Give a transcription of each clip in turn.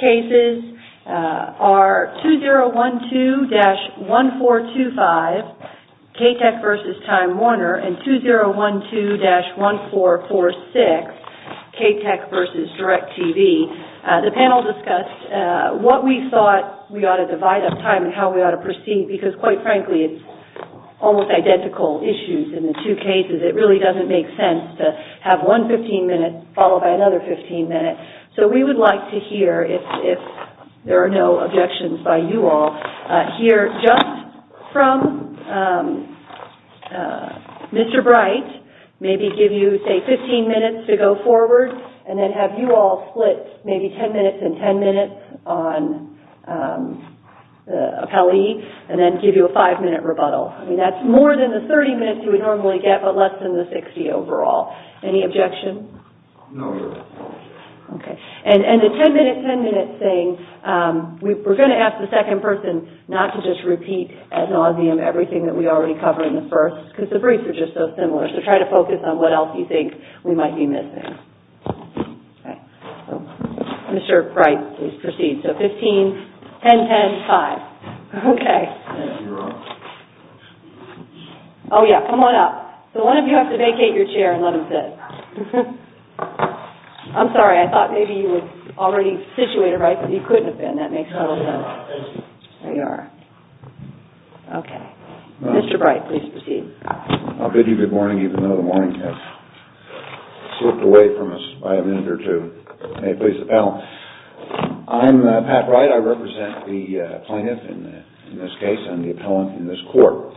cases are 2012-1425 K-TECH v. Time Warner and 2012-1446 K-TECH v. DIRECTV. The panel discussed what we thought we ought to divide up time and how we ought to proceed, because quite frankly it's almost identical issues in the two cases. It really doesn't make sense to have one 15-minute followed by another 15-minute. So we would like to hear if there are no objections by you all, hear just from Mr. Bright, maybe give you, say, 15 minutes to go forward, and then have you all split maybe 10 minutes and 10 minutes on the appellee, and then give you a five-minute rebuttal. I mean, that's more than the 30 minutes you would normally get, but less than the 60 overall. Any objection? No. Okay. And the 10-minute, 10-minute thing, we're going to ask the second person not to just repeat ad nauseum everything that we already covered in the first, because the briefs are just so similar, so try to focus on what else you think we might be missing. Mr. Bright, please proceed. So 15, 10, 10, 5. Okay. Oh, yeah. Come on up. So one of you has to vacate your chair and let him sit. I'm sorry. I thought maybe you were already situated right, but you couldn't have been. That makes total sense. There you are. Okay. Mr. Bright, please proceed. I'll bid you good morning, even though the morning has slipped away from us by a minute or two. May it please the panel. I'm Pat Bright. I represent the plaintiff in this case. I'm the appellant in this court.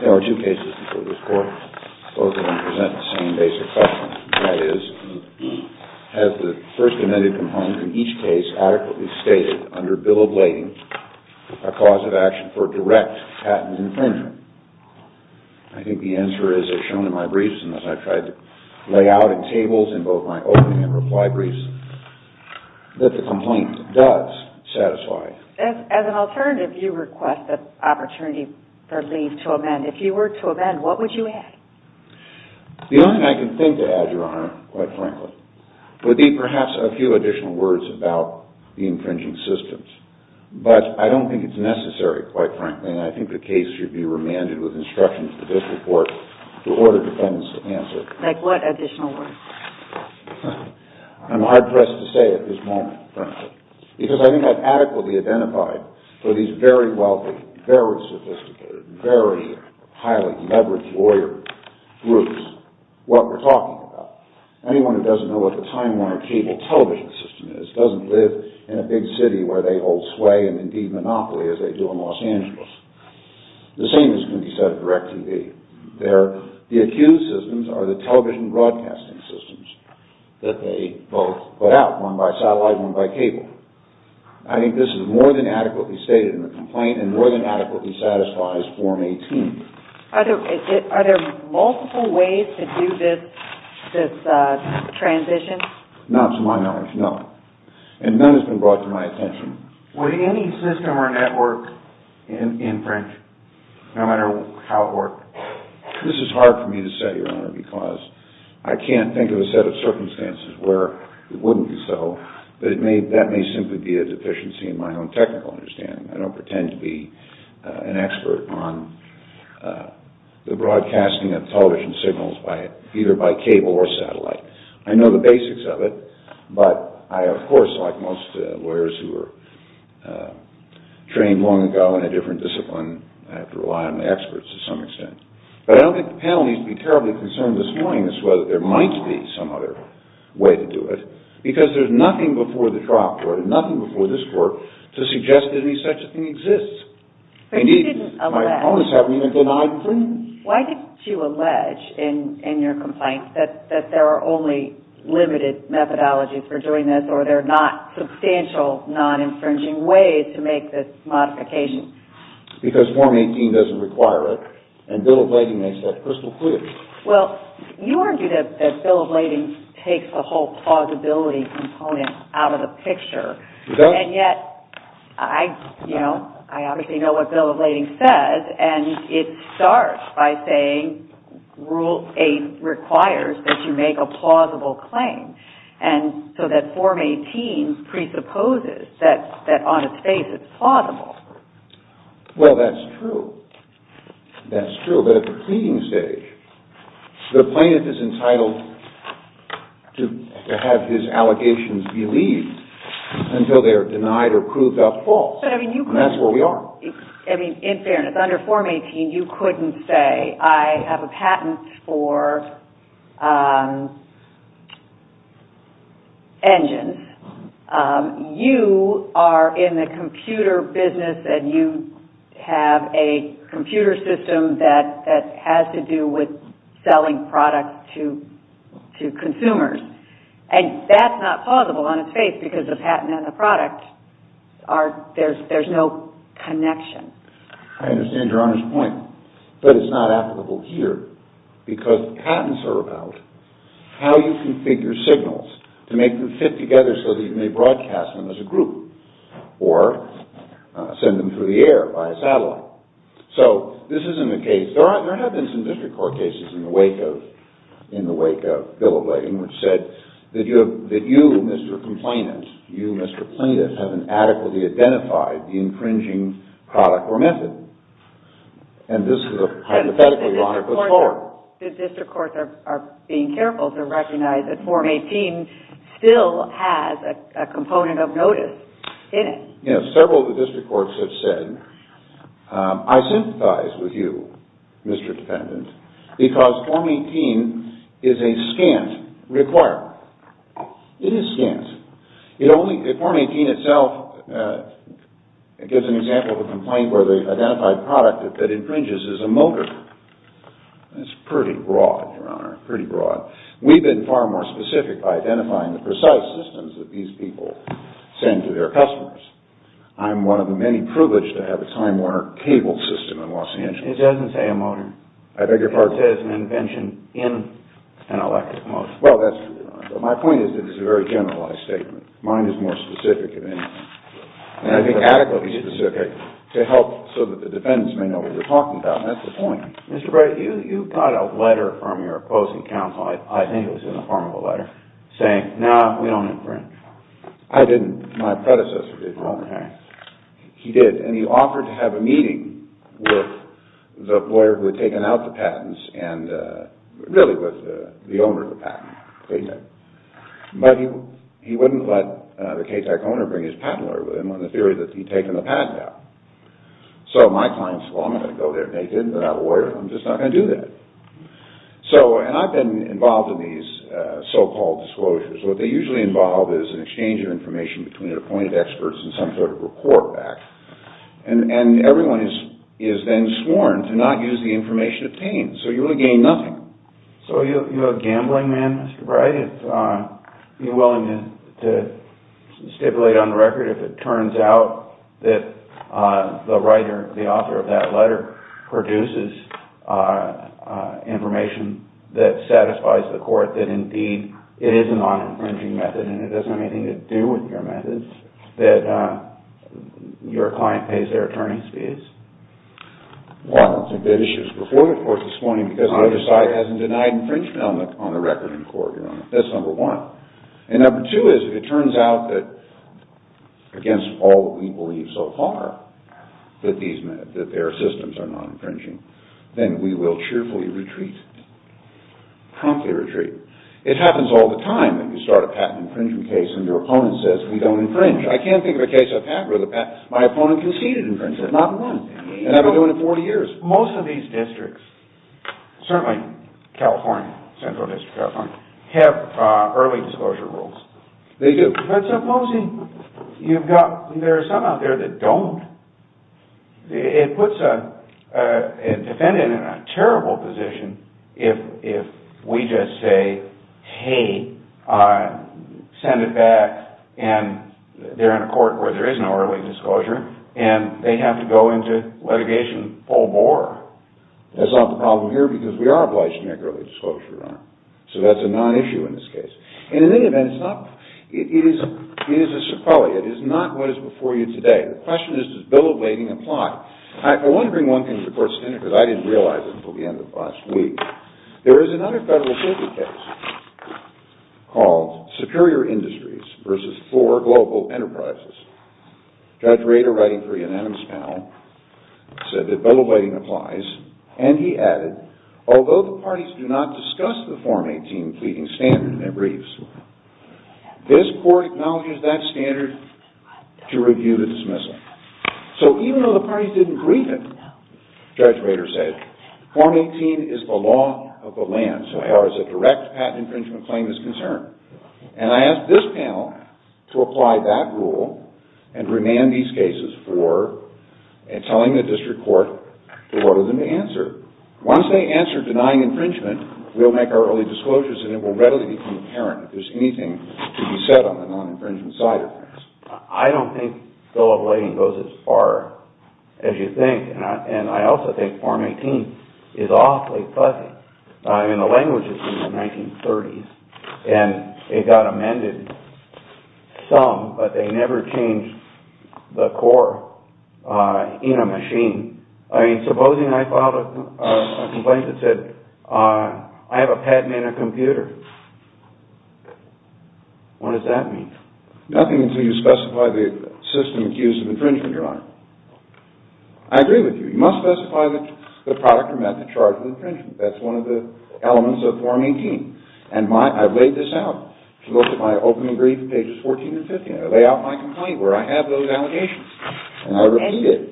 There are two cases before this court. Both of them present the same basic question, and that is, has the First Amendment component in each case adequately stated under bill of lading a cause of action for direct patent infringement? I think the answer is as shown in my briefs and as I've tried to lay out in tables in both my opening and reply briefs, that the complaint does satisfy. As an alternative, you request the opportunity for leave to amend. If you were to amend, what would you add? The only thing I can think to add, Your Honor, quite frankly, would be perhaps a few additional words about the infringing systems, but I don't think it's necessary, quite frankly, and I think the case should be remanded with instructions for this report to order defendants to answer. Like what additional words? I'm hard-pressed to say at this moment, frankly, because I think I've adequately identified for these very wealthy, very sophisticated, very highly leveraged lawyer groups what we're talking about. Anyone who doesn't know what the Timeline Cable television system is doesn't live in a big city where they hold sway and indeed monopoly as they do in Los Angeles. The same is going to be said of DirecTV. The accused systems are the television broadcasting systems that they both put out, one by satellite, one by cable. I think this is more than adequately stated in the complaint and more than adequately satisfies Form 18. Are there multiple ways to do this transition? Not to my knowledge, no, and none has been brought to my attention. Would any system or network infringe, no matter how it worked? This is hard for me to say, Your Honor, because I can't think of a set of circumstances where it wouldn't be so, but that may simply be a deficiency in my own technical understanding. I don't pretend to be an expert on the broadcasting of television signals either by cable or satellite. I know the basics of it, but I, of course, like most lawyers who were trained long ago in a different discipline, I have to rely on the experts to some extent. But I don't think the panel needs to be terribly concerned this morning as to whether there might be some other way to do it, because there's nothing before the trial court and nothing before this court to suggest any such thing exists. Indeed, my opponents haven't even denied infringement. Why did you allege in your complaint that there are only limited methodologies for doing this or there are not substantial non-infringing ways to make this modification? Because Form 18 doesn't require it, and Bill of Lading makes that crystal clear. Well, you argue that Bill of Lading takes the whole plausibility component out of the picture, and yet I obviously know what Bill of Lading says, and it starts by saying Rule 8 requires that you make a plausible claim, and so that Form 18 presupposes that on its face it's plausible. Well, that's true. That's true. But at the proceeding stage, the plaintiff is entitled to have his allegations believed until they are denied or proved up false, and that's where we are. In fairness, under Form 18, you couldn't say, I have a patent for engines. You are in the computer business, and you have a computer system that has to do with selling products to consumers, and that's not plausible on its face because the patent and the product, there's no connection. I understand Your Honor's point, but it's not applicable here, because patents are about how you configure signals to make them fit together so that you may broadcast them as a group or send them through the air by a satellite. So this isn't the case. There have been some district court cases in the wake of Bill of Lading which said that you, Mr. Complainant, you, Mr. Plaintiff, haven't adequately identified the infringing product or method, and this is a hypothetically wrong report. The district courts are being careful to recognize that Form 18 still has a component of notice in it. Yes, several of the district courts have said, I sympathize with you, Mr. Defendant, because Form 18 is a scant requirement. It is scant. Form 18 itself gives an example of a complaint where the identified product that infringes is a motor. That's pretty broad, Your Honor, pretty broad. We've been far more specific by identifying the precise systems that these people send to their customers. I'm one of the many privileged to have a Time Warner cable system in Los Angeles. It doesn't say a motor. I beg your pardon? It says an invention in an electric motor. My point is that it's a very generalized statement. Mine is more specific, and I think adequately specific, to help so that the defendants may know what you're talking about, and that's the point. Mr. Brady, you got a letter from your opposing counsel, I think it was in the form of a letter, saying, no, we don't infringe. I didn't. My predecessor did, Your Honor. He did, and he offered to have a meeting with the lawyer who had taken out the patents, and really with the owner of the patent, KTAC. But he wouldn't let the KTAC owner bring his patent lawyer with him on the theory that he'd taken the patent out. So my client said, well, I'm not going to go there naked without a lawyer. I'm just not going to do that. And I've been involved in these so-called disclosures. What they usually involve is an exchange of information between appointed experts and some sort of report back. And everyone is then sworn to not use the information obtained. So you really gain nothing. So you're a gambling man, Mr. Brady? Are you willing to stipulate on the record if it turns out that the writer, the author of that letter, produces information that satisfies the court that indeed it is a non-infringing method and it doesn't have anything to do with your methods, that your client pays their attorney's fees? Well, I don't think that issue is before the court this morning, because neither side hasn't denied infringement on the record in court, Your Honor. That's number one. And number two is if it turns out that, against all that we believe so far, that their systems are non-infringing, then we will cheerfully retreat. Promptly retreat. It happens all the time that you start a patent infringement case and your opponent says, we don't infringe. I can't think of a case I've had where my opponent conceded infringement. Not one. And I've been doing it 40 years. Most of these districts, certainly California, Central District of California, have early disclosure rules. They do. But supposing you've got, there are some out there that don't. It puts a defendant in a terrible position if we just say, hey, send it back, and they're in a court where there is no early disclosure, and they have to go into litigation full bore. That's not the problem here, because we are obliged to make early disclosure, Your Honor. So that's a non-issue in this case. And in any event, it is a sequelae. It is not what is before you today. The question is, does bill ablating apply? I want to bring one thing to the court's attention, because I didn't realize it until the end of last week. There is another federal circuit case called Superior Industries v. Four Global Enterprises. Judge Rader, writing for Unanimous Panel, said that bill ablating applies, and he added, although the parties do not discuss the Form 18 pleading standard in their briefs, this court acknowledges that standard to review the dismissal. So even though the parties didn't brief him, Judge Rader said, Form 18 is the law of the land, so how is a direct patent infringement claim is concerned. And I ask this panel to apply that rule and remand these cases for telling the district court to order them to answer. Once they answer denying infringement, we'll make our early disclosures, and it will readily become apparent if there's anything to be said on the non-infringement side of things. I don't think bill ablating goes as far as you think, and I also think Form 18 is awfully fuzzy. I mean, the language is from the 1930s, and it got amended some, but they never changed the core in a machine. I mean, supposing I filed a complaint that said, I have a patent in a computer, what does that mean? Nothing until you specify the system accused of infringement, Your Honor. I agree with you. You must specify the product or method charged with infringement. That's one of the elements of Form 18. And I've laid this out. If you look at my opening brief at pages 14 and 15, I lay out my complaint where I have those allegations, and I repeat it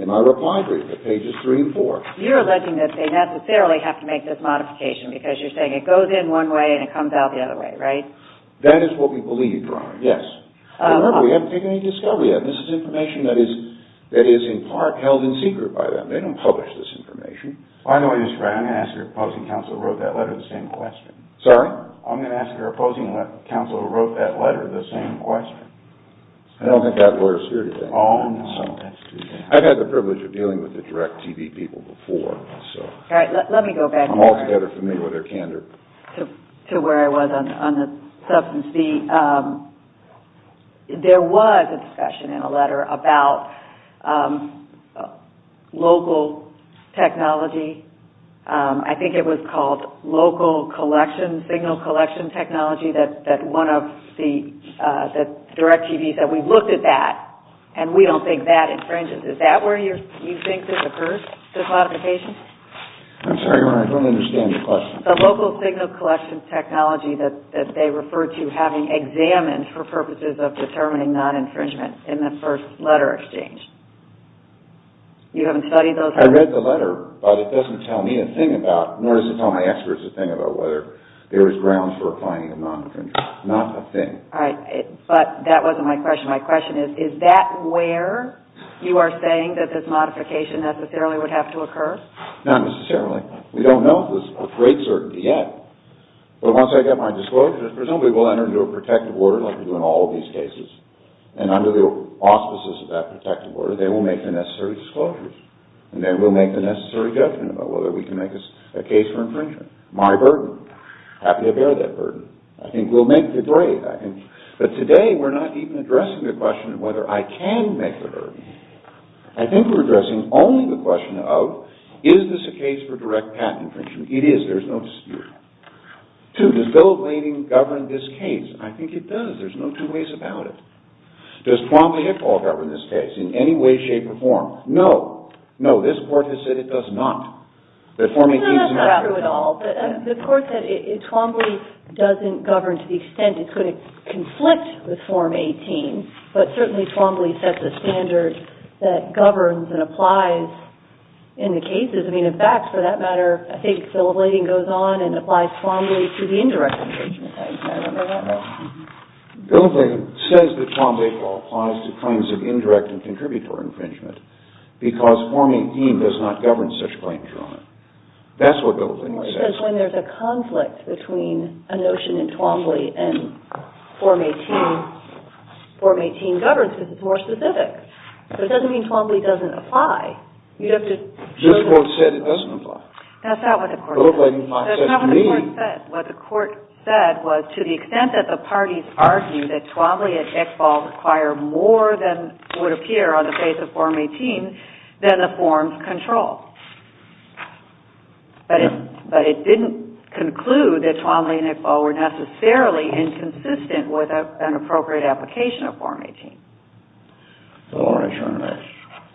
in my reply brief at pages 3 and 4. You're alleging that they necessarily have to make this modification, because you're saying it goes in one way and it comes out the other way, right? That is what we believe, Your Honor, yes. Remember, we haven't taken any discovery yet. This is information that is in part held in secret by them. They don't publish this information. By the way, Mr. Wright, I'm going to ask your opposing counsel who wrote that letter the same question. Sorry? I'm going to ask your opposing counsel who wrote that letter the same question. I don't think that lawyer is here today. Oh, no, that's too bad. I've had the privilege of dealing with the direct TV people before, so. All right, let me go back. I'm also better familiar with their candor. To where I was on the substance. There was a discussion in a letter about local technology. I think it was called local collection, signal collection technology, that one of the direct TVs that we looked at that, and we don't think that infringes. Is that where you think this occurs, this modification? I'm sorry, Your Honor, I don't understand your question. The local signal collection technology that they refer to having examined for purposes of determining non-infringement in the first letter exchange. You haven't studied those? I read the letter, but it doesn't tell me a thing about, nor does it tell my experts a thing about whether there is grounds for applying a non-infringement. Not a thing. All right, but that wasn't my question. My question is, is that where you are saying that this modification necessarily would have to occur? Not necessarily. We don't know this with great certainty yet. But once I get my disclosure, presumably we'll enter into a protective order like we do in all of these cases. And under the auspices of that protective order, they will make the necessary disclosures. And then we'll make the necessary judgment about whether we can make a case for infringement. My burden. Happy to bear that burden. I think we'll make the grade. But today we're not even addressing the question of whether I can make the burden. I think we're addressing only the question of, is this a case for direct patent infringement? It is. There's no dispute. Two, does Bill of Lading govern this case? I think it does. There's no two ways about it. Does Twombly-Hickaul govern this case in any way, shape, or form? No. No, this Court has said it does not. That Form 18 is not true at all. No, that's not true at all. The Court said Twombly doesn't govern to the extent it could conflict with Form 18. But certainly Twombly sets a standard that governs and applies in the cases. I mean, in fact, for that matter, I think Bill of Lading goes on and applies Twombly to the indirect infringement. I remember that. No. Bill of Lading says that Twombly-Hickaul applies to claims of indirect and contributory infringement because Form 18 does not govern such claims, Your Honor. That's what Bill of Lading says. The difference is when there's a conflict between a notion in Twombly and Form 18, Form 18 governs because it's more specific. But it doesn't mean Twombly doesn't apply. This Court said it doesn't apply. That's not what the Court said. That's not what the Court said. What the Court said was to the extent that the parties argue that Twombly and Hickaul require more than would appear on the face of Form 18, then the forms control. But it didn't conclude that Twombly and Hickaul were necessarily inconsistent with an appropriate application of Form 18. So, Your Honor,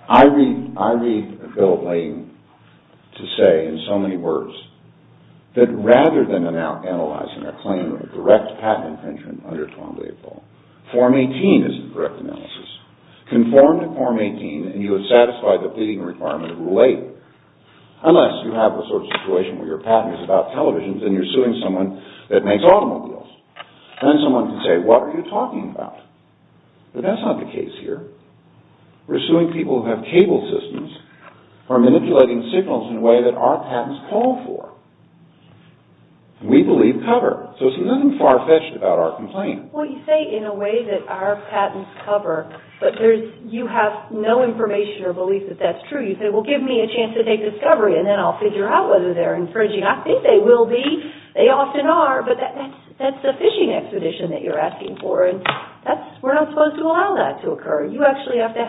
I read Bill of Lading to say in so many words that rather than analyzing a claim of direct patent infringement under Twombly-Hickaul, Form 18 is the correct analysis. Conformed to Form 18 and you have satisfied the pleading requirement of Rule 8. Unless you have the sort of situation where your patent is about televisions and you're suing someone that makes automobiles. Then someone can say, what are you talking about? But that's not the case here. We're suing people who have cable systems or manipulating signals in a way that our patents call for. We believe cover. So there's nothing far-fetched about our complaint. Well, you say in a way that our patents cover. But you have no information or belief that that's true. You say, well, give me a chance to take discovery and then I'll figure out whether they're infringing. I think they will be. They often are. But that's a fishing expedition that you're asking for. And we're not supposed to allow that to occur. You actually have to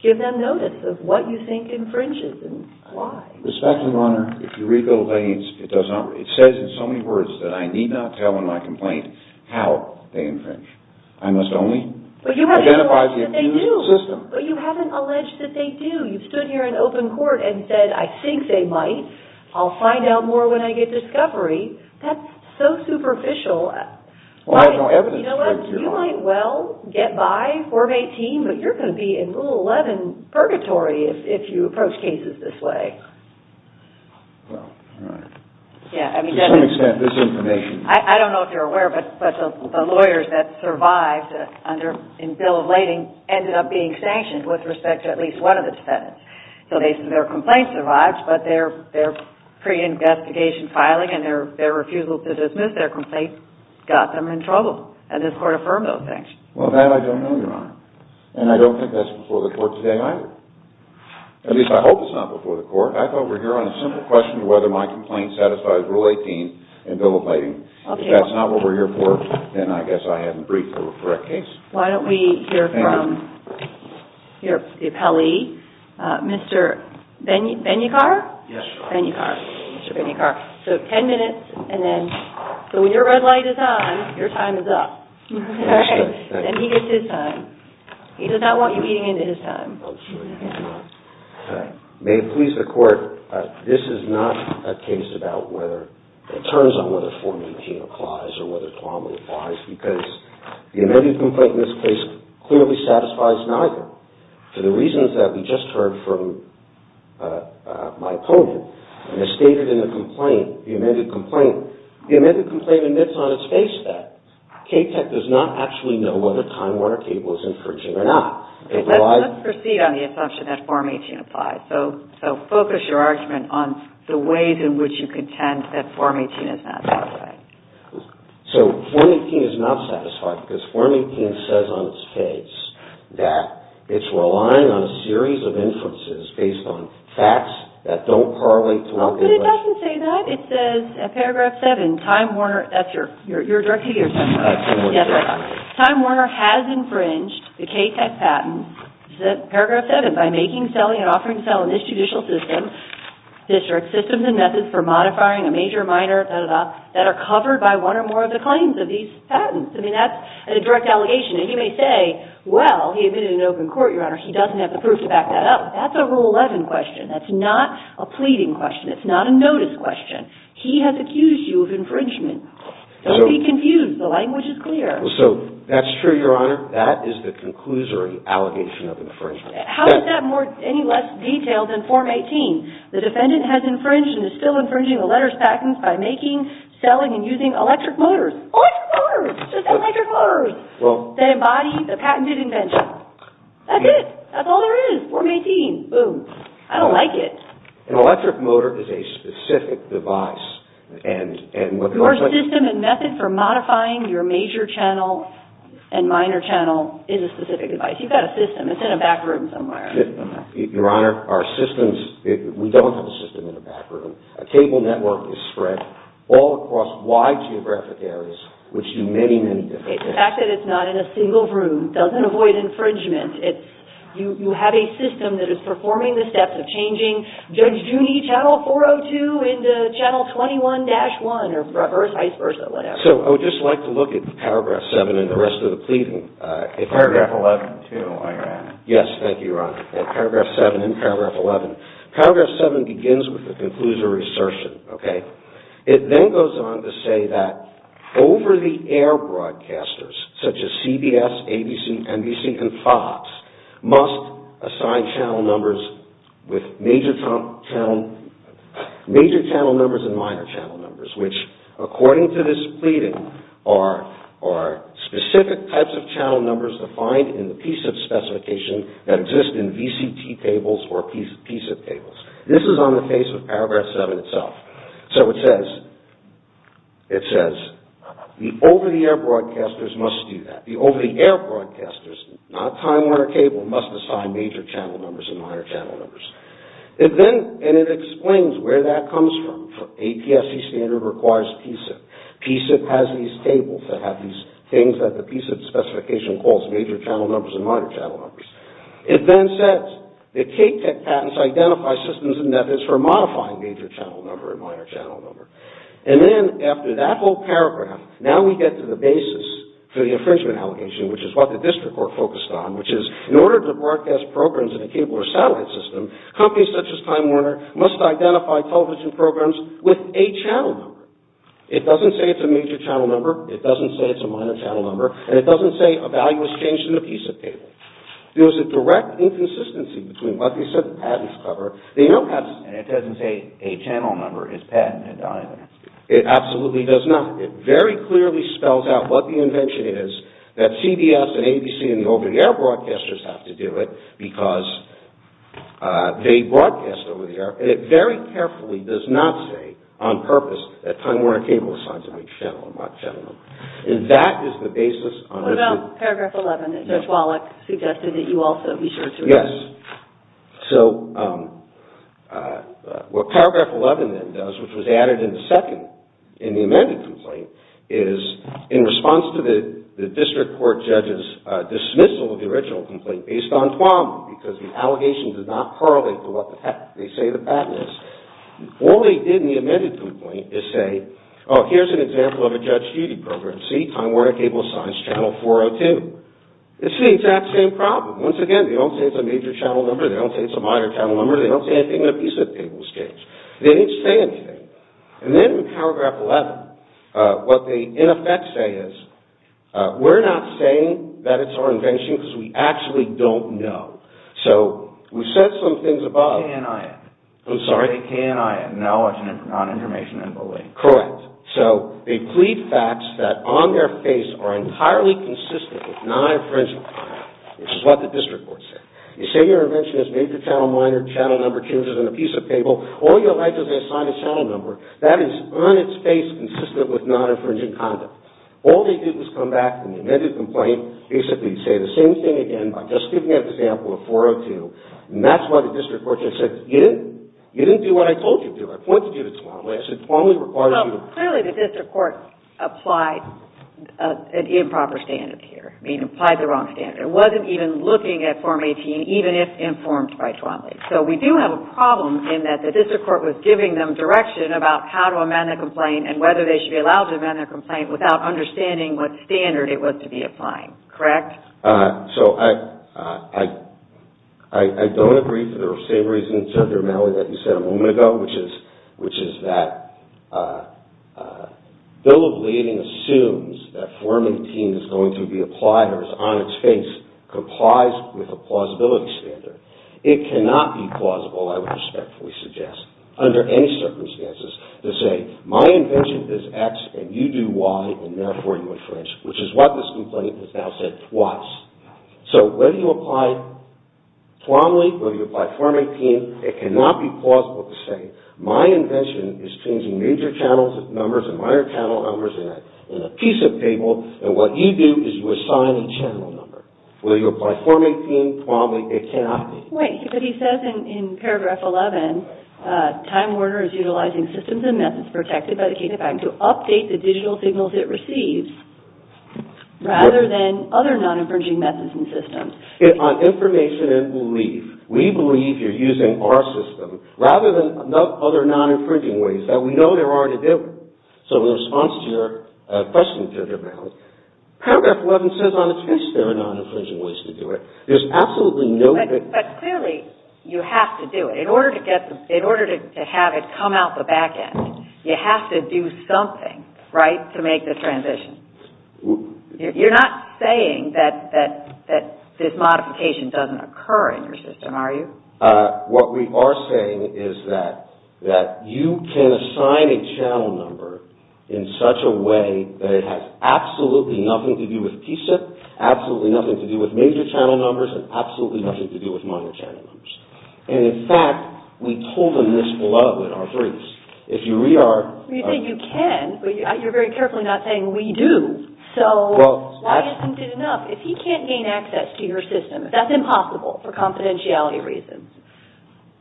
give them notice of what you think infringes and why. Respectfully, Your Honor, if you read Bill of Lading, it says in so many words that I need not tell in my complaint how they infringe. I must only identify the accused system. But you haven't alleged that they do. You've stood here in open court and said, I think they might. I'll find out more when I get discovery. That's so superficial. Well, I have no evidence. You know what? You might well get by, Court of 18, but you're going to be in Rule 11 purgatory if you approach cases this way. Well, all right. To some extent, there's information. I don't know if you're aware, but the lawyers that survived in Bill of Lading ended up being sanctioned with respect to at least one of the defendants. So their complaint survived, but their pre-investigation filing and their refusal to dismiss their complaint got them in trouble. And this Court affirmed those sanctions. Well, that I don't know, Your Honor. And I don't think that's before the Court today either. At least I hope it's not before the Court. I thought we were here on a simple question of whether my complaint satisfies Rule 18 in Bill of Lading. If that's not what we're here for, then I guess I haven't briefed the correct case. Why don't we hear from your appellee, Mr. Benyikar? Yes, Your Honor. Benyikar. Mr. Benyikar. So 10 minutes. And then, so when your red light is on, your time is up. All right. Then he gets his time. He does not want you eating into his time. I'm sure you have not. All right. May it please the Court, this is not a case about whether it turns on whether Form 18 applies or whether Tuamu applies, because the amended complaint in this case clearly satisfies neither. For the reasons that we just heard from my opponent, and as stated in the complaint, the amended complaint, the amended complaint admits on its face that KTEC does not actually know whether Time Warner Cable is infringing or not. Let's proceed on the assumption that Form 18 applies. So focus your argument on the ways in which you contend that Form 18 is not satisfied. So Form 18 is not satisfied because Form 18 says on its face that it's relying on a series of inferences based on facts that don't correlate to what we've read. But it doesn't say that. It says in Paragraph 7, Time Warner, that's your, you're directing it yourself. Yes, I am. Time Warner has infringed the KTEC patent, Paragraph 7, by making, selling, and offering to sell in this judicial system district systems and methods for modifying a major, minor, da-da-da, that are covered by one or more of the claims of these patents. I mean, that's a direct allegation. And you may say, well, he admitted in open court, Your Honor, he doesn't have the proof to back that up. That's a Rule 11 question. That's not a pleading question. It's not a notice question. He has accused you of infringement. Don't be confused. The language is clear. So that's true, Your Honor. That is the conclusory allegation of infringement. How is that any less detailed than Form 18? The defendant has infringed and is still infringing the letters patents by making, selling, and using electric motors. Electric motors! Just electric motors that embody the patented invention. That's it. That's all there is. Form 18. Boom. I don't like it. An electric motor is a specific device. Your system and method for modifying your major channel and minor channel is a specific device. You've got a system. It's in a back room somewhere. Your Honor, our systems, we don't have a system in a back room. A cable network is spread all across wide geographic areas, which do many, many different things. The fact that it's not in a single room doesn't avoid infringement. You have a system that is performing the steps of changing Judge Juney, Channel 402, into Channel 21-1, or vice versa, whatever. So I would just like to look at Paragraph 7 and the rest of the pleading. Paragraph 11, too, I read. Yes, thank you, Your Honor. Paragraph 7 and Paragraph 11. Paragraph 7 begins with the conclusory assertion, okay? It then goes on to say that over-the-air broadcasters, such as CBS, ABC, NBC, and Fox, must assign channel numbers with major channel numbers and minor channel numbers, which, according to this pleading, are specific types of channel numbers defined in the PSIP specification that exist in VCT tables or PSIP tables. This is on the face of Paragraph 7 itself. So it says, it says, the over-the-air broadcasters must do that. The over-the-air broadcasters, not Time Warner Cable, must assign major channel numbers and minor channel numbers. It then, and it explains where that comes from. APSC standard requires PSIP. PSIP has these tables that have these things that the PSIP specification calls major channel numbers and minor channel numbers. It then says that Cape Tech patents identify systems and methods for modifying major channel number and minor channel number. And then, after that whole paragraph, now we get to the basis for the infringement allegation, which is what the district court focused on, which is, in order to broadcast programs in a cable or satellite system, companies such as Time Warner must identify television programs with a channel number. It doesn't say it's a major channel number. It doesn't say it's a minor channel number. And it doesn't say a value is changed in the PSIP table. There's a direct inconsistency between what they said the patents cover. They don't have... And it doesn't say a channel number is patented either. It absolutely does not. It very clearly spells out what the invention is, that CBS and ABC and the over-the-air broadcasters have to do it because they broadcast over-the-air. And it very carefully does not say, on purpose, that Time Warner Cable signs a major channel or minor channel number. And that is the basis on which... What about paragraph 11 that Judge Wallach suggested that you also be sure to read? Yes. So, what paragraph 11 then does, which was added in the second in the amended complaint, is in response to the district court judge's dismissal of the original complaint based on Twombly because the allegations did not correlate to what they say the patent is, all they did in the amended complaint is say, oh, here's an example of a judge duty program. See, Time Warner Cable signs channel 402. It's the exact same problem. Once again, they don't say it's a major channel number. They don't say it's a minor channel number. They don't say anything in a piece of the table stage. They didn't say anything. And then in paragraph 11, what they, in effect, say is, we're not saying that it's our invention because we actually don't know. So, we said some things about... KNIN. I'm sorry? KNIN, Knowledge, Non-Information, and Belief. Correct. So, they plead facts that, on their face, are entirely consistent with non-infringing conduct, which is what the district court said. You say your invention is major channel, minor channel number, changes in a piece of table. All you'll write is they assign a channel number. That is, on its face, consistent with non-infringing conduct. All they did was come back in the amended complaint, basically say the same thing again by just giving an example of 402, and that's why the district court judge said, you didn't do what I told you to do. I pointed you to Twombly. I said, Twombly requires you to... Well, clearly the district court applied an improper standard here. I mean, applied the wrong standard. It wasn't even looking at Form 18, even if informed by Twombly. So, we do have a problem in that the district court was giving them direction about how to amend the complaint and whether they should be allowed to amend the complaint without understanding what standard it was to be applying. Correct? So, I don't agree for the same reasons, Judge Romali, that you said a moment ago, which is that Bill of Leading assumes that Form 18 is going to be applied or is on its face, complies with a plausibility standard. It cannot be plausible, I would respectfully suggest, under any circumstances, to say, my invention is X and you do Y and therefore you infringe, which is what this complaint has now said twice. So, whether you apply Twombly, whether you apply Form 18, it cannot be plausible to say, my invention is changing major channel numbers and minor channel numbers in a piece of paper and what you do is you assign a channel number. Whether you apply Form 18, Twombly, it cannot be. Wait, but he says in paragraph 11, Time Warner is utilizing systems and methods protected by the K-5 to update the digital signals it receives rather than other non-infringing methods and systems. On information and belief, we believe you're using our system rather than other non-infringing ways that we know there are to deal with. So, in response to your question, Judge Romali, paragraph 11 says on its face there are non-infringing ways to do it. There's absolutely no... But clearly, you have to do it. In order to have it come out the back end, you have to do something, right, to make the transition. You're not saying that this modification doesn't occur in your system, are you? What we are saying is that you can assign a channel number in such a way that it has absolutely nothing to do with PSIP, absolutely nothing to do with major channel numbers, and absolutely nothing to do with minor channel numbers. And in fact, we told them this below in our briefs. If you read our... Well, you say you can, but you're very carefully not saying we do. So, why isn't it enough? If he can't gain access to your system, that's impossible for confidentiality reasons.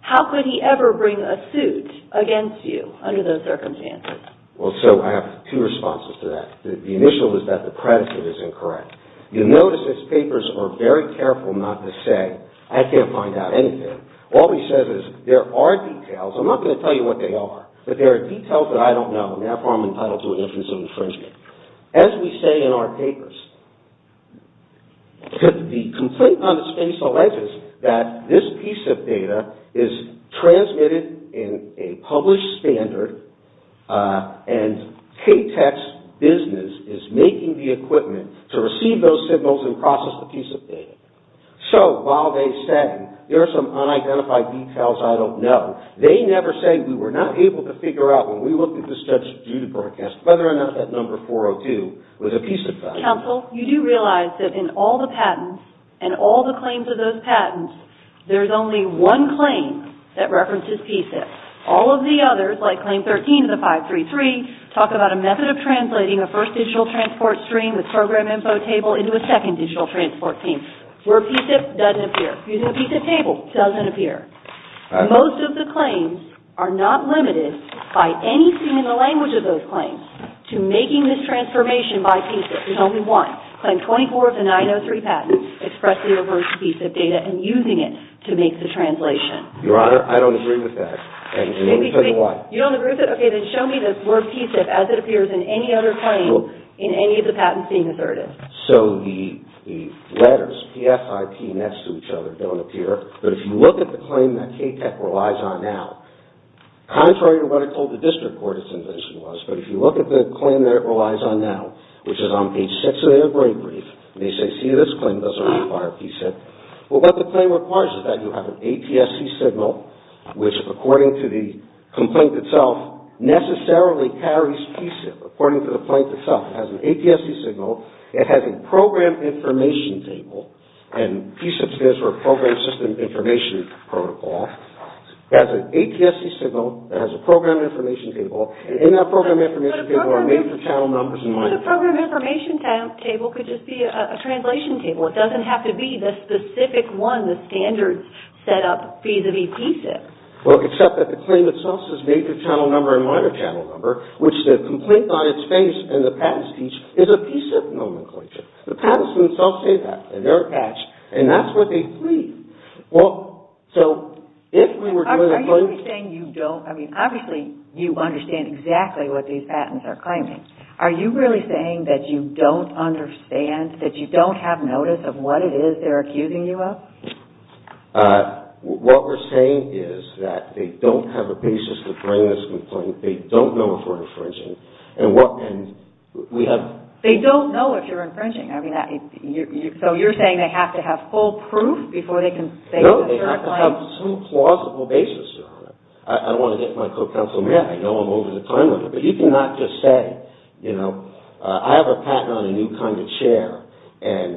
How could he ever bring a suit against you under those circumstances? Well, so, I have two responses to that. The initial is that the predicate is incorrect. You'll notice his papers are very careful not to say, I can't find out anything. All he says is, there are details. I'm not going to tell you what they are, but there are details that I don't know, and therefore I'm entitled to an instance of infringement. As we say in our papers, the complaint on the space alleges that this PSIP data is transmitted in a published standard, and KTEX business is making the equipment to receive those signals and process the PSIP data. So, while they say, there are some unidentified details I don't know, they never say, we were not able to figure out, when we looked at the studs due to broadcast, whether or not that number 402 was a PSIP file. Counsel, you do realize that in all the patents, and all the claims of those patents, there's only one claim that references PSIP. All of the others, like claim 13 of the 533, talk about a method of translating a first digital transport stream with program info table into a second digital transport stream, where PSIP doesn't appear. Using a PSIP table doesn't appear. Most of the claims are not limited by anything in the language of those claims to making this transformation by PSIP. There's only one. Claim 24 of the 903 patents expressly refers to PSIP data and using it to make the translation. Your Honor, I don't agree with that. And let me tell you why. You don't agree with it? Okay, then show me the word PSIP as it appears in any other claim in any of the patents being asserted. So, the letters P-F-I-P next to each other don't appear, but if you look at the claim that KTEC relies on now, contrary to what I told the district court its invention was, but if you look at the claim that it relies on now, which is on page 6 of their brief, they say, see, this claim doesn't require PSIP. Well, what the claim requires is that you have an ATSC signal, which according to the complaint itself necessarily carries PSIP, according to the complaint itself. It has an ATSC signal. It has a program information table, and PSIP stands for Program System Information Protocol. It has an ATSC signal. It has a program information table, and in that program information table are major channel numbers and minor channel numbers. But a program information table could just be a translation table. It doesn't have to be the specific one, the standards set up vis-a-vis PSIP. Well, except that the claim itself says major channel number and minor channel number, which the complaint by its face and the patents teach is a PSIP nomenclature. The patents themselves say that. They're attached, and that's what they plead. Well, so if we were doing a claim... Are you saying you don't... I mean, obviously you understand exactly what these patents are claiming. Are you really saying that you don't understand, that you don't have notice of what it is they're accusing you of? What we're saying is that they don't have a basis to bring this complaint. They don't know if we're infringing, and what... They don't know if you're infringing. So you're saying they have to have full proof before they can... No, they have to have some plausible basis. I don't want to get my co-counsel mad. I know I'm over the time limit, but you cannot just say, you know, I have a patent on a new kind of chair, and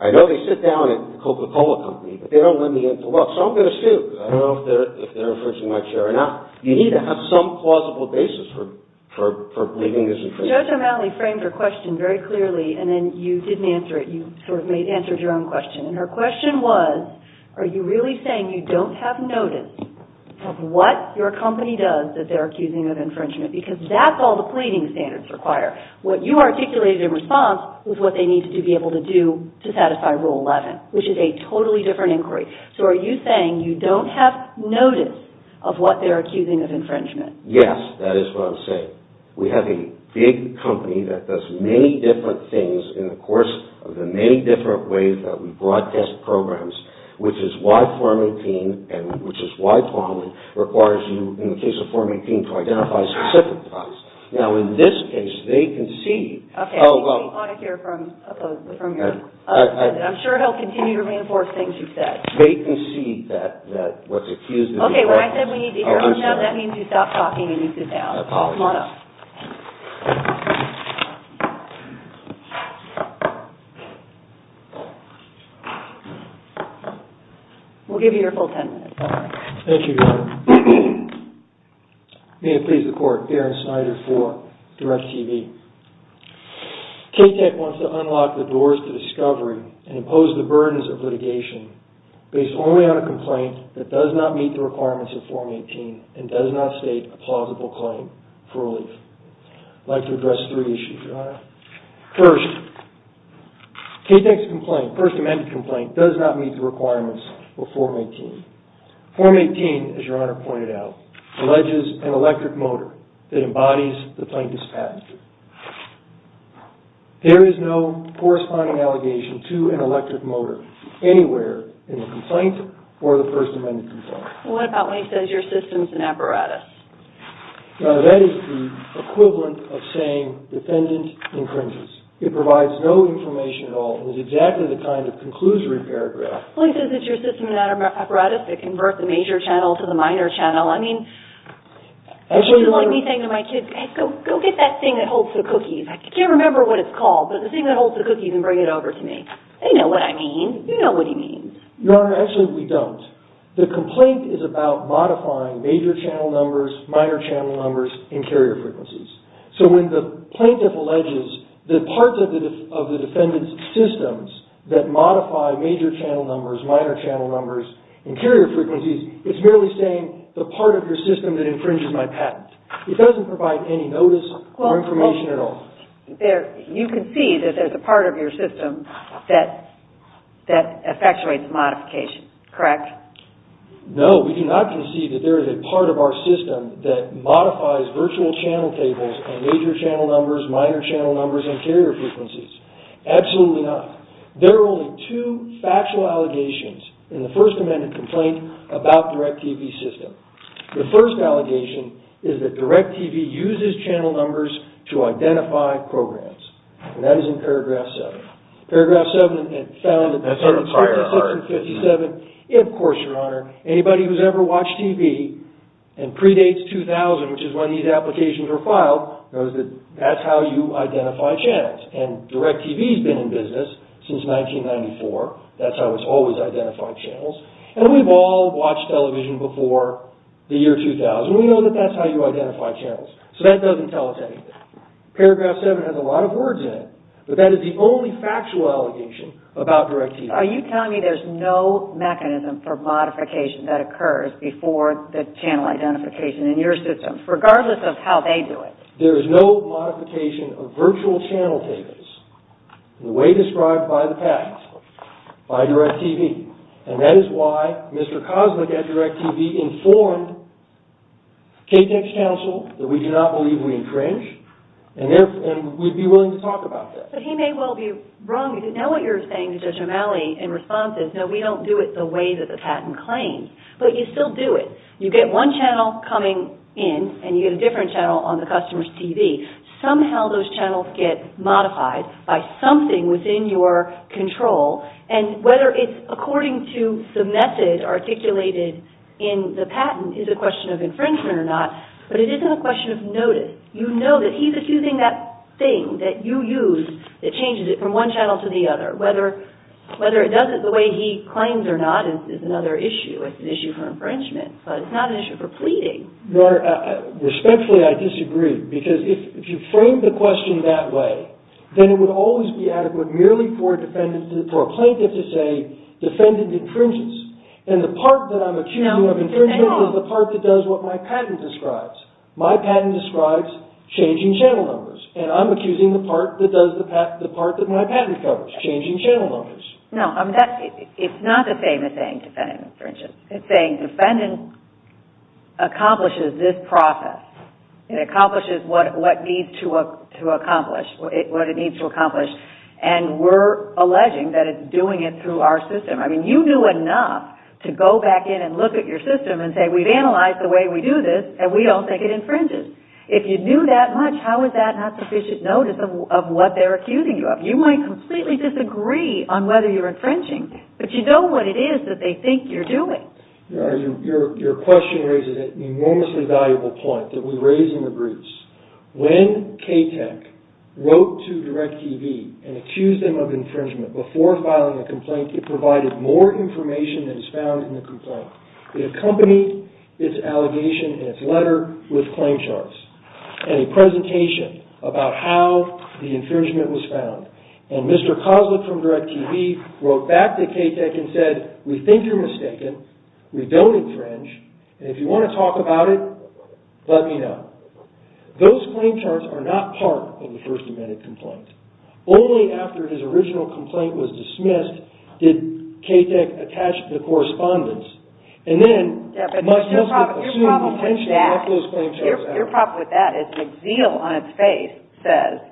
I know they sit down at the Coca-Cola company, but they don't let me in to look, so I'm going to sue. I don't know if they're infringing my chair or not. You need to have some plausible basis for believing this is infringing. Judge O'Malley framed her question very clearly, and then you didn't answer it. You sort of answered your own question, and her question was, are you really saying you don't have notice of what your company does that they're accusing of infringement? Because that's all the pleading standards require. What you articulated in response was what they needed to be able to do to satisfy Rule 11, which is a totally different inquiry. So are you saying you don't have notice of what they're accusing of infringement? Yes, that is what I'm saying. We have a big company that does many different things in the course of the many different ways that we broadcast programs, which is why Form 18, and which is why Parliament requires you, in the case of Form 18, to identify specific crimes. Now, in this case, they concede... Okay, we want to hear from your... I'm sure he'll continue to reinforce things you've said. They concede that what's accused of... Okay, when I said we need to hear from them, that means you stop talking and you sit down. I apologize. We'll give you your full ten minutes. Thank you, Your Honor. May it please the Court, Darren Snyder for DirecTV. KTEC wants to unlock the doors to discovery and impose the burdens of litigation based only on a complaint that does not meet the requirements of Form 18 and does not state a plausible claim for relief. I'd like to address three issues, Your Honor. First, KTEC's complaint, first amended complaint, does not meet the requirements of Form 18. Form 18, as Your Honor pointed out, alleges an electric motor that embodies the plaintiff's patent. There is no corresponding allegation to an electric motor anywhere in the complaint or the first amended complaint. What about when he says your system's an apparatus? No, that is the equivalent of saying defendant infringes. It provides no information at all and is exactly the kind of conclusory paragraph... Well, he says it's your system's an apparatus that converts the major channel to the minor channel. I mean, it's just like me saying to my kids, go get that thing that holds the cookies. I can't remember what it's called, but the thing that holds the cookies and bring it over to me. They know what I mean. You know what he means. Your Honor, actually we don't. The complaint is about modifying major channel numbers, minor channel numbers, and carrier frequencies. So when the plaintiff alleges that parts of the defendant's systems that modify major channel numbers, minor channel numbers, and carrier frequencies, it's merely saying the part of your system that infringes my patent. It doesn't provide any notice or information at all. You concede that there's a part of your system that effectuates modification, correct? No, we do not concede that there is a part of our system that modifies virtual channel tables and major channel numbers, minor channel numbers, and carrier frequencies. Absolutely not. There are only two factual allegations in the first amended complaint about the REC TV system. The first allegation is that REC TV uses channel numbers to identify programs. And that is in paragraph 7. Paragraph 7, it found that That's sort of prior art. Of course, Your Honor. Anybody who's ever watched TV and predates 2000, which is when these applications were filed, knows that that's how you identify channels. And REC TV's been in business since 1994. That's how it's always identified channels. And we've all watched television before the year 2000. We know that that's how you identify channels. So that doesn't tell us anything. Paragraph 7 has a lot of words in it. But that is the only factual allegation about REC TV. Are you telling me there's no mechanism for modification that occurs before the channel identification in your system, regardless of how they do it? There is no modification of virtual channel tables in the way described by the PACS by REC TV. And that is why Mr. Kosmic at REC TV informed KTX Counsel that we do not believe we infringe. And we'd be willing to talk about that. But he may well be wrong. Because now what you're saying to Judge O'Malley in response is, no, we don't do it the way that the patent claims. But you still do it. You get one channel coming in, and you get a different channel on the customer's TV. Somehow those channels get modified by something within your control. And whether it's according to the method articulated in the patent is a question of infringement or not. But it isn't a question of notice. You know that he's accusing that thing that you use that changes it from one channel to the other. Whether it does it the way he claims or not is another issue. It's an issue for infringement. But it's not an issue for pleading. Your Honor, respectfully, I disagree. Because if you frame the question that way, then it would always be adequate merely for a plaintiff to say, defendant infringes. And the part that I'm accusing of infringement is the part that does what my patent describes. My patent describes changing channel numbers. And I'm accusing the part that does the part that my patent covers, changing channel numbers. No, it's not the same as saying defendant infringes. It's saying defendant accomplishes this process. It accomplishes what it needs to accomplish. And we're alleging that it's doing it through our system. I mean, you knew enough to go back in and look at your system and say we've analyzed the way we do this and we don't think it infringes. If you knew that much, how is that not sufficient notice of what they're accusing you of? You might completely disagree on whether you're infringing. But you know what it is that they think you're doing. Your question raises an enormously valuable point that we raise in the briefs. When KTEC wrote to DIRECTV and accused them of infringement before filing a complaint, it provided more information than is found in the complaint. It accompanied its allegation and its letter with claim charts and a presentation about how the infringement was found. And Mr. Koslick from DIRECTV wrote back to KTEC and said, we think you're mistaken. We don't infringe. And if you want to talk about it, let me know. Those claim charts are not part of the first amended complaint. Only after his original complaint was dismissed, did KTEC attach the correspondence. And then, Mr. Koslick assumed the intention of those claim charts. Your problem with that is the zeal on its face says,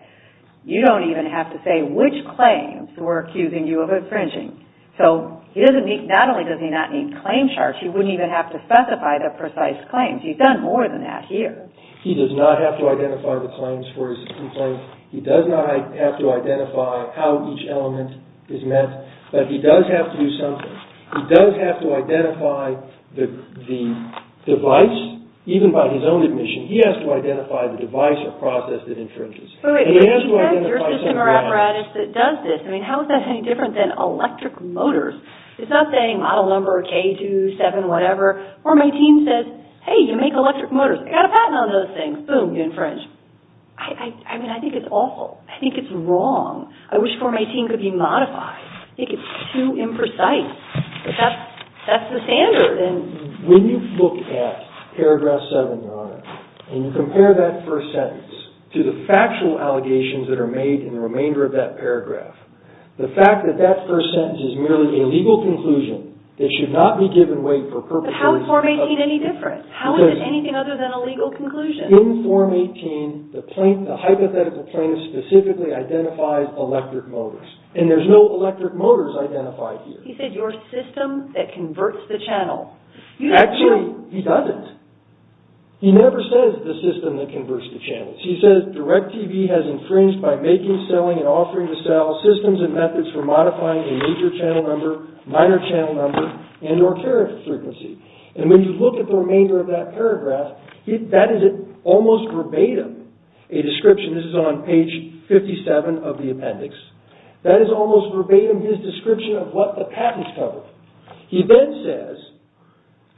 you don't even have to say which claims were accusing you of infringing. So not only does he not need claim charts, he wouldn't even have to specify the precise claims. He's done more than that here. He does not have to identify the claims for his complaint. He does not have to identify how each element is met. But he does have to do something. He does have to identify the device, even by his own admission. He has to identify the device or process that infringes. He has to identify something else. How is that any different than electric motors? It's not saying model number K2, 7, whatever. Or my team says, hey, you make electric motors. I've got a patent on those things. Boom, you infringe. I mean, I think it's awful. I think it's wrong. I wish Form 18 could be modified. I think it's too imprecise. That's the standard. When you look at Paragraph 7, Your Honor, and you compare that first sentence to the factual allegations that are made in the remainder of that paragraph, the fact that that first sentence is merely a legal conclusion that should not be given weight for purposes of... But how is Form 18 any different? How is it anything other than a legal conclusion? In Form 18, the hypothetical plaintiff specifically identifies electric motors. And there's no electric motors identified here. He said your system that converts the channel. Actually, he doesn't. He never says the system that converts the channels. He says DIRECTV has infringed by making, selling, and offering to sell for modifying a major channel number, minor channel number, and or character frequency. And when you look at the remainder of that paragraph, that is almost verbatim a description. This is on page 57 of the appendix. That is almost verbatim his description of what the patent's covered. He then says...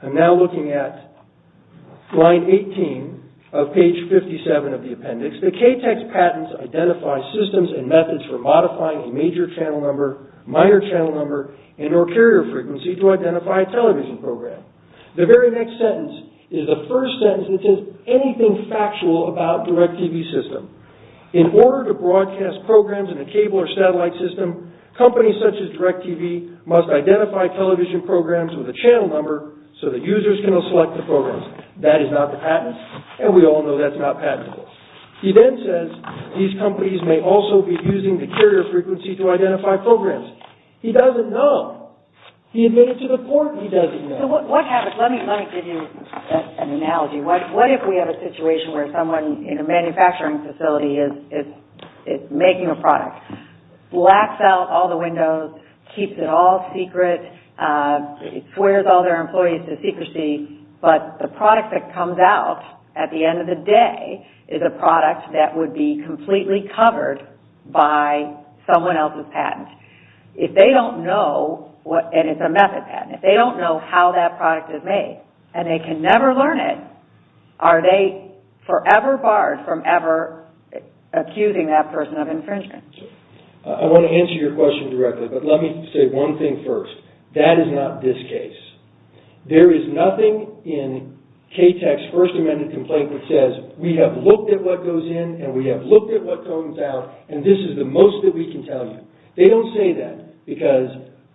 I'm now looking at Line 18 of page 57 of the appendix. The KTEX patents identify systems and methods for modifying a major channel number, minor channel number, and or carrier frequency to identify a television program. The very next sentence is the first sentence that says anything factual about DIRECTV's system. In order to broadcast programs in a cable or satellite system, companies such as DIRECTV must identify television programs with a channel number so that users can select the programs. That is not the patent, and we all know that's not patentable. He then says, these companies may also be using the carrier frequency to identify programs. He doesn't know. He admitted to the court he doesn't know. So what happens? Let me give you an analogy. What if we have a situation where someone in a manufacturing facility is making a product, blacks out all the windows, keeps it all secret, swears all their employees to secrecy, but the product that comes out at the end of the day is a product that would be completely covered by someone else's patent. If they don't know, and it's a method patent, if they don't know how that product is made, and they can never learn it, are they forever barred from ever accusing that person of infringement? I want to answer your question directly, but let me say one thing first. That is not this case. There is nothing in KTAC's First Amendment complaint that says, we have looked at what goes in, and we have looked at what comes out, and this is the most that we can tell you. They don't say that because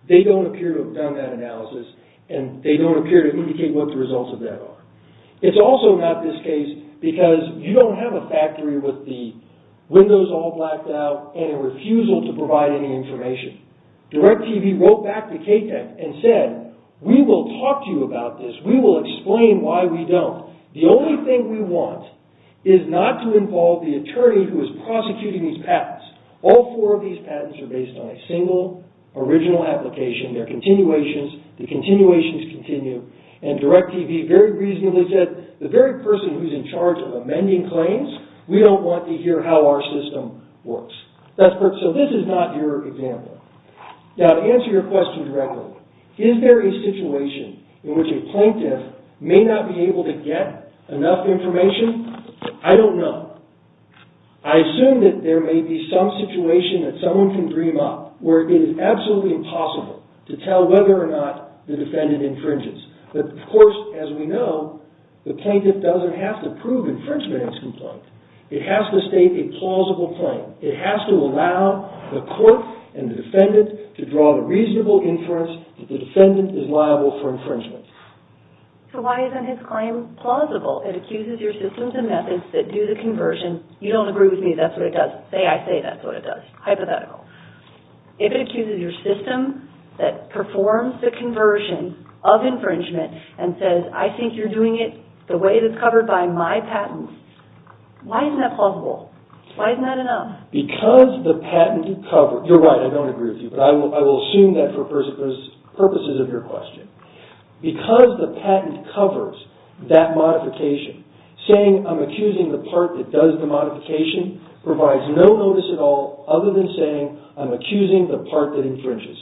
they don't appear to have done that analysis, and they don't appear to indicate what the results of that are. It's also not this case because you don't have a factory with the windows all blacked out and a refusal to provide any information. DirecTV wrote back to KTAC and said, we will talk to you about this. We will explain why we don't. The only thing we want is not to involve the attorney who is prosecuting these patents. All four of these patents are based on a single, original application. They are continuations. The continuations continue. And DirecTV very reasonably said, the very person who is in charge of amending claims, we don't want to hear how our system works. So this is not your example. Now, to answer your question directly, is there a situation in which a plaintiff may not be able to get enough information? I don't know. I assume that there may be some situation that someone can dream up where it is absolutely impossible to tell whether or not the defendant infringes. But of course, as we know, the plaintiff doesn't have to prove infringement in his complaint. It has to state a plausible claim. It has to allow the court and the defendant to draw the reasonable inference that the defendant is liable for infringement. So why isn't his claim plausible? It accuses your systems and methods that do the conversion. You don't agree with me. That's what it does. Say I say that's what it does. Hypothetical. If it accuses your system that performs the conversion of infringement and says, I think you're doing it the way that's covered by my patent, why isn't that plausible? Why isn't that enough? Because the patent covers... You're right. I don't agree with you. But I will assume that for purposes of your question. Because the patent covers that modification, saying I'm accusing the part that does the modification provides no notice at all other than saying I'm accusing the part that infringes.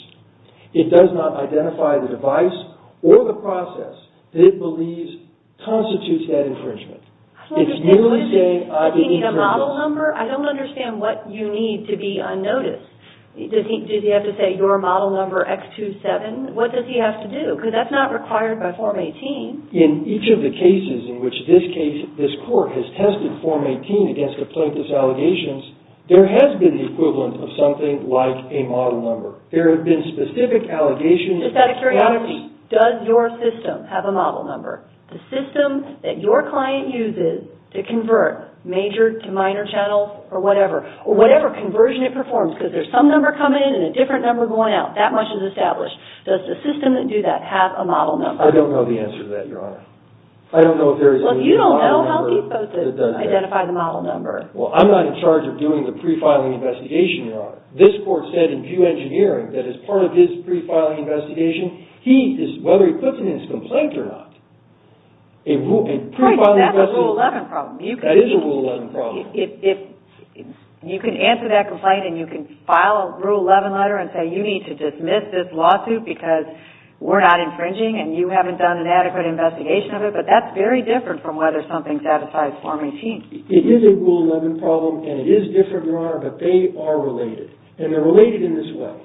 It does not identify the device or the process that it believes constitutes that infringement. It's merely saying... I don't understand. Do you need a model number? I don't understand what you need to be unnoticed. Does he have to say your model number X27? What does he have to do? Because that's not required by Form 18. In each of the cases in which this case, this court has tested Form 18 against complaintless allegations, there has been the equivalent of something like a model number. There have been specific allegations... Just out of curiosity, does your system have a model number? The system that your client uses to convert major to minor channels or whatever, or whatever conversion it performs, because there's some number coming in and a different number going out, that much is established. Does the system that do that have a model number? I don't know the answer to that, Your Honor. I don't know if there is any model number that does that. Well, you don't know how he's supposed to identify the model number. Well, I'm not in charge of doing the pre-filing investigation, Your Honor. This court said in Pew Engineering that as part of his pre-filing investigation, he is, whether he puts it in his complaint or not, a pre-filing investigation... Right, but that's a Rule 11 problem. That is a Rule 11 problem. If you can answer that complaint and you can file a Rule 11 letter and say, you need to dismiss this lawsuit because we're not infringing and you haven't done an adequate investigation of it, but that's very different from whether something satisfies Form 18. It is a Rule 11 problem and it is different, Your Honor, but they are related and they're related in this way.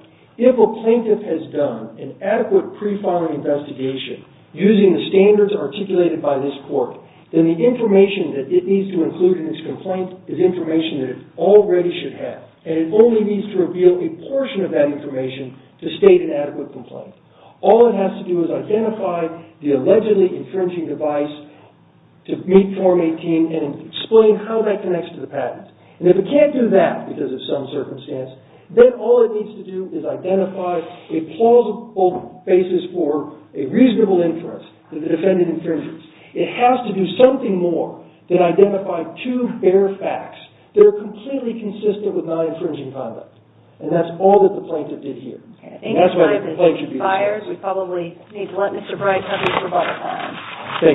If a plaintiff has done an adequate pre-filing investigation using the standards articulated by this court, then the information that it needs to include in its complaint is information that it already should have and it only needs to reveal a portion of that information to state an adequate complaint. All it has to do is identify the allegedly infringing device to meet Form 18 and explain how that connects to the patent. And if it can't do that because of some circumstance, then all it needs to do is identify a plausible basis for a reasonable inference that it offended infringers. It has to do something more than identify two bare facts that are completely consistent with non-infringing conduct and that's all that the plaintiff did here. And that's why the complaint should be dismissed. Thank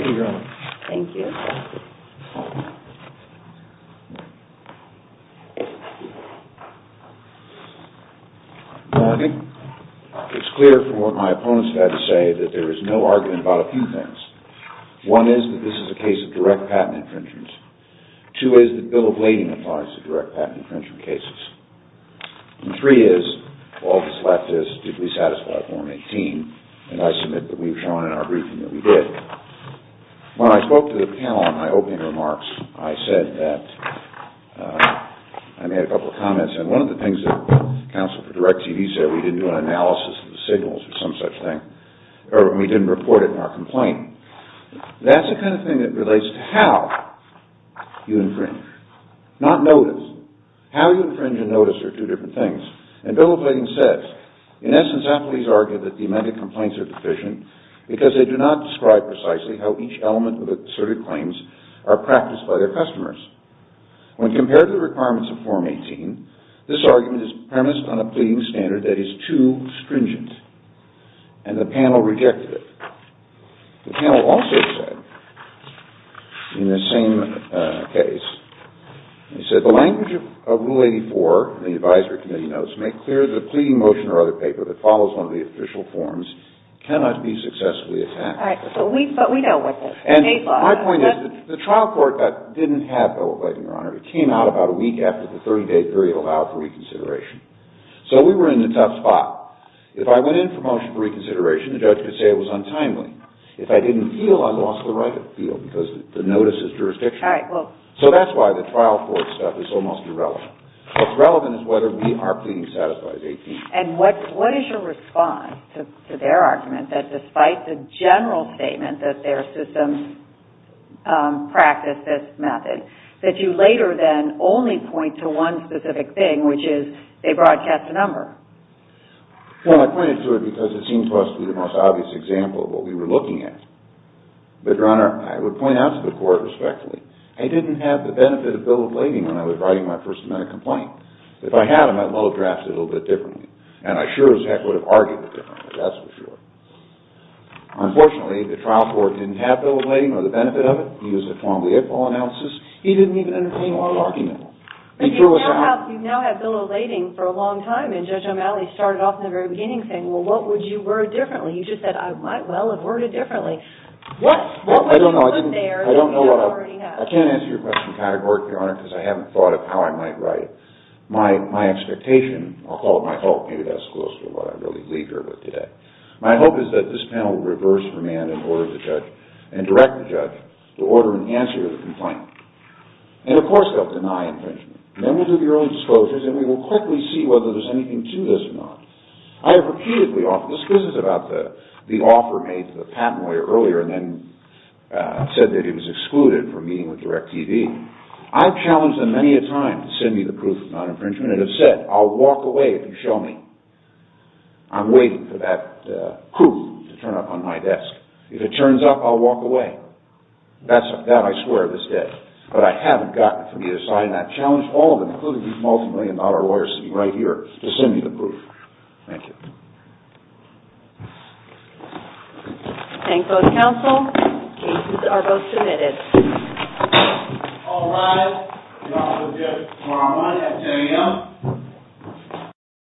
you, Your Honor. Thank you. Good morning. It's clear from what my opponents have had to say that there is no argument about a few things. One is that this is a case of direct patent infringement. Two is that Bill of Lading applies to direct patent infringement cases. And three is all that's left is to be satisfied with Form 18 and I submit that we've done what we've done in our briefing that we did. When I spoke to the panel on my opening remarks, I said that I made a couple of comments and one of the things that counsel for direct TV said, we didn't do an analysis of the signals or some such thing or we didn't report it in our complaint. That's the point. In essence, appellees argue that the amended complaints are deficient because they do not describe precisely how each element of asserted claims are practiced by their customers. When compared to the requirements of Form 18, this argument is premised on a pleading standard that is too stringent and the panel rejected it. The panel also said in the same case, they said the language of Rule 84 in the advisory committee notes make clear that a pleading motion or other paper that follows one of the official forms cannot be successfully attacked. My point is that the trial court didn't have that, Your Honor. It came out about a week after the 30-day period allowed for reconsideration. So we were in a tough spot. If I went in for motion for reconsideration, the judge could say it was untimely. If I didn't feel I lost the right to feel because the notice is jurisdictional. So that's why the trial court stuff is almost irrelevant. What's relevant is whether we are pleading satisfied. And what is your response to their argument that despite the general statement that their systems practice this method, that you later then only point to one specific thing, which is they broadcast the number? Well, I pointed to it because it seemed to us to be the most obvious example of what we were looking at. But, Your Honor, I would point out to the court respectfully, I didn't have the benefit of bill of lading when I was writing my first amendment complaint. If I had, I might have drafted it a little bit differently. And I sure as heck would have argued it differently, that's for sure. Unfortunately, the trial court didn't have bill of lading, or the benefit of it. He didn't even entertain a lot of argument. But you now have bill of lading for a long time, and Judge O'Malley started off in the very beginning saying, well, what would you word differently? You just said, I might well have worded differently. What would you put there that you already have? I can't answer your question categorically, Your Honor, because I haven't thought of how I might write it. My expectation, I'll call it my hope, maybe that's close to what I really leave here with today. My hope is that this panel will reverse command and order the judge and direct the judge to order and answer the complaint. And, of course, they'll deny infringement. Then we'll do the early disclosures and we will quickly see whether there's anything to this or not. I have repeatedly offered, this was about the offer made to the patent lawyer earlier and then said that he was excluded from meeting with DirecTV. I've challenged them many a time to send me the proof of non-infringement and have said I'll walk away if you show me. I'm waiting for that proof to turn up on my desk. If it turns up, I'll walk away. That I swear of this day. But I haven't gotten it from either side and I've challenged all of them, including these multi-million dollars. Thank you.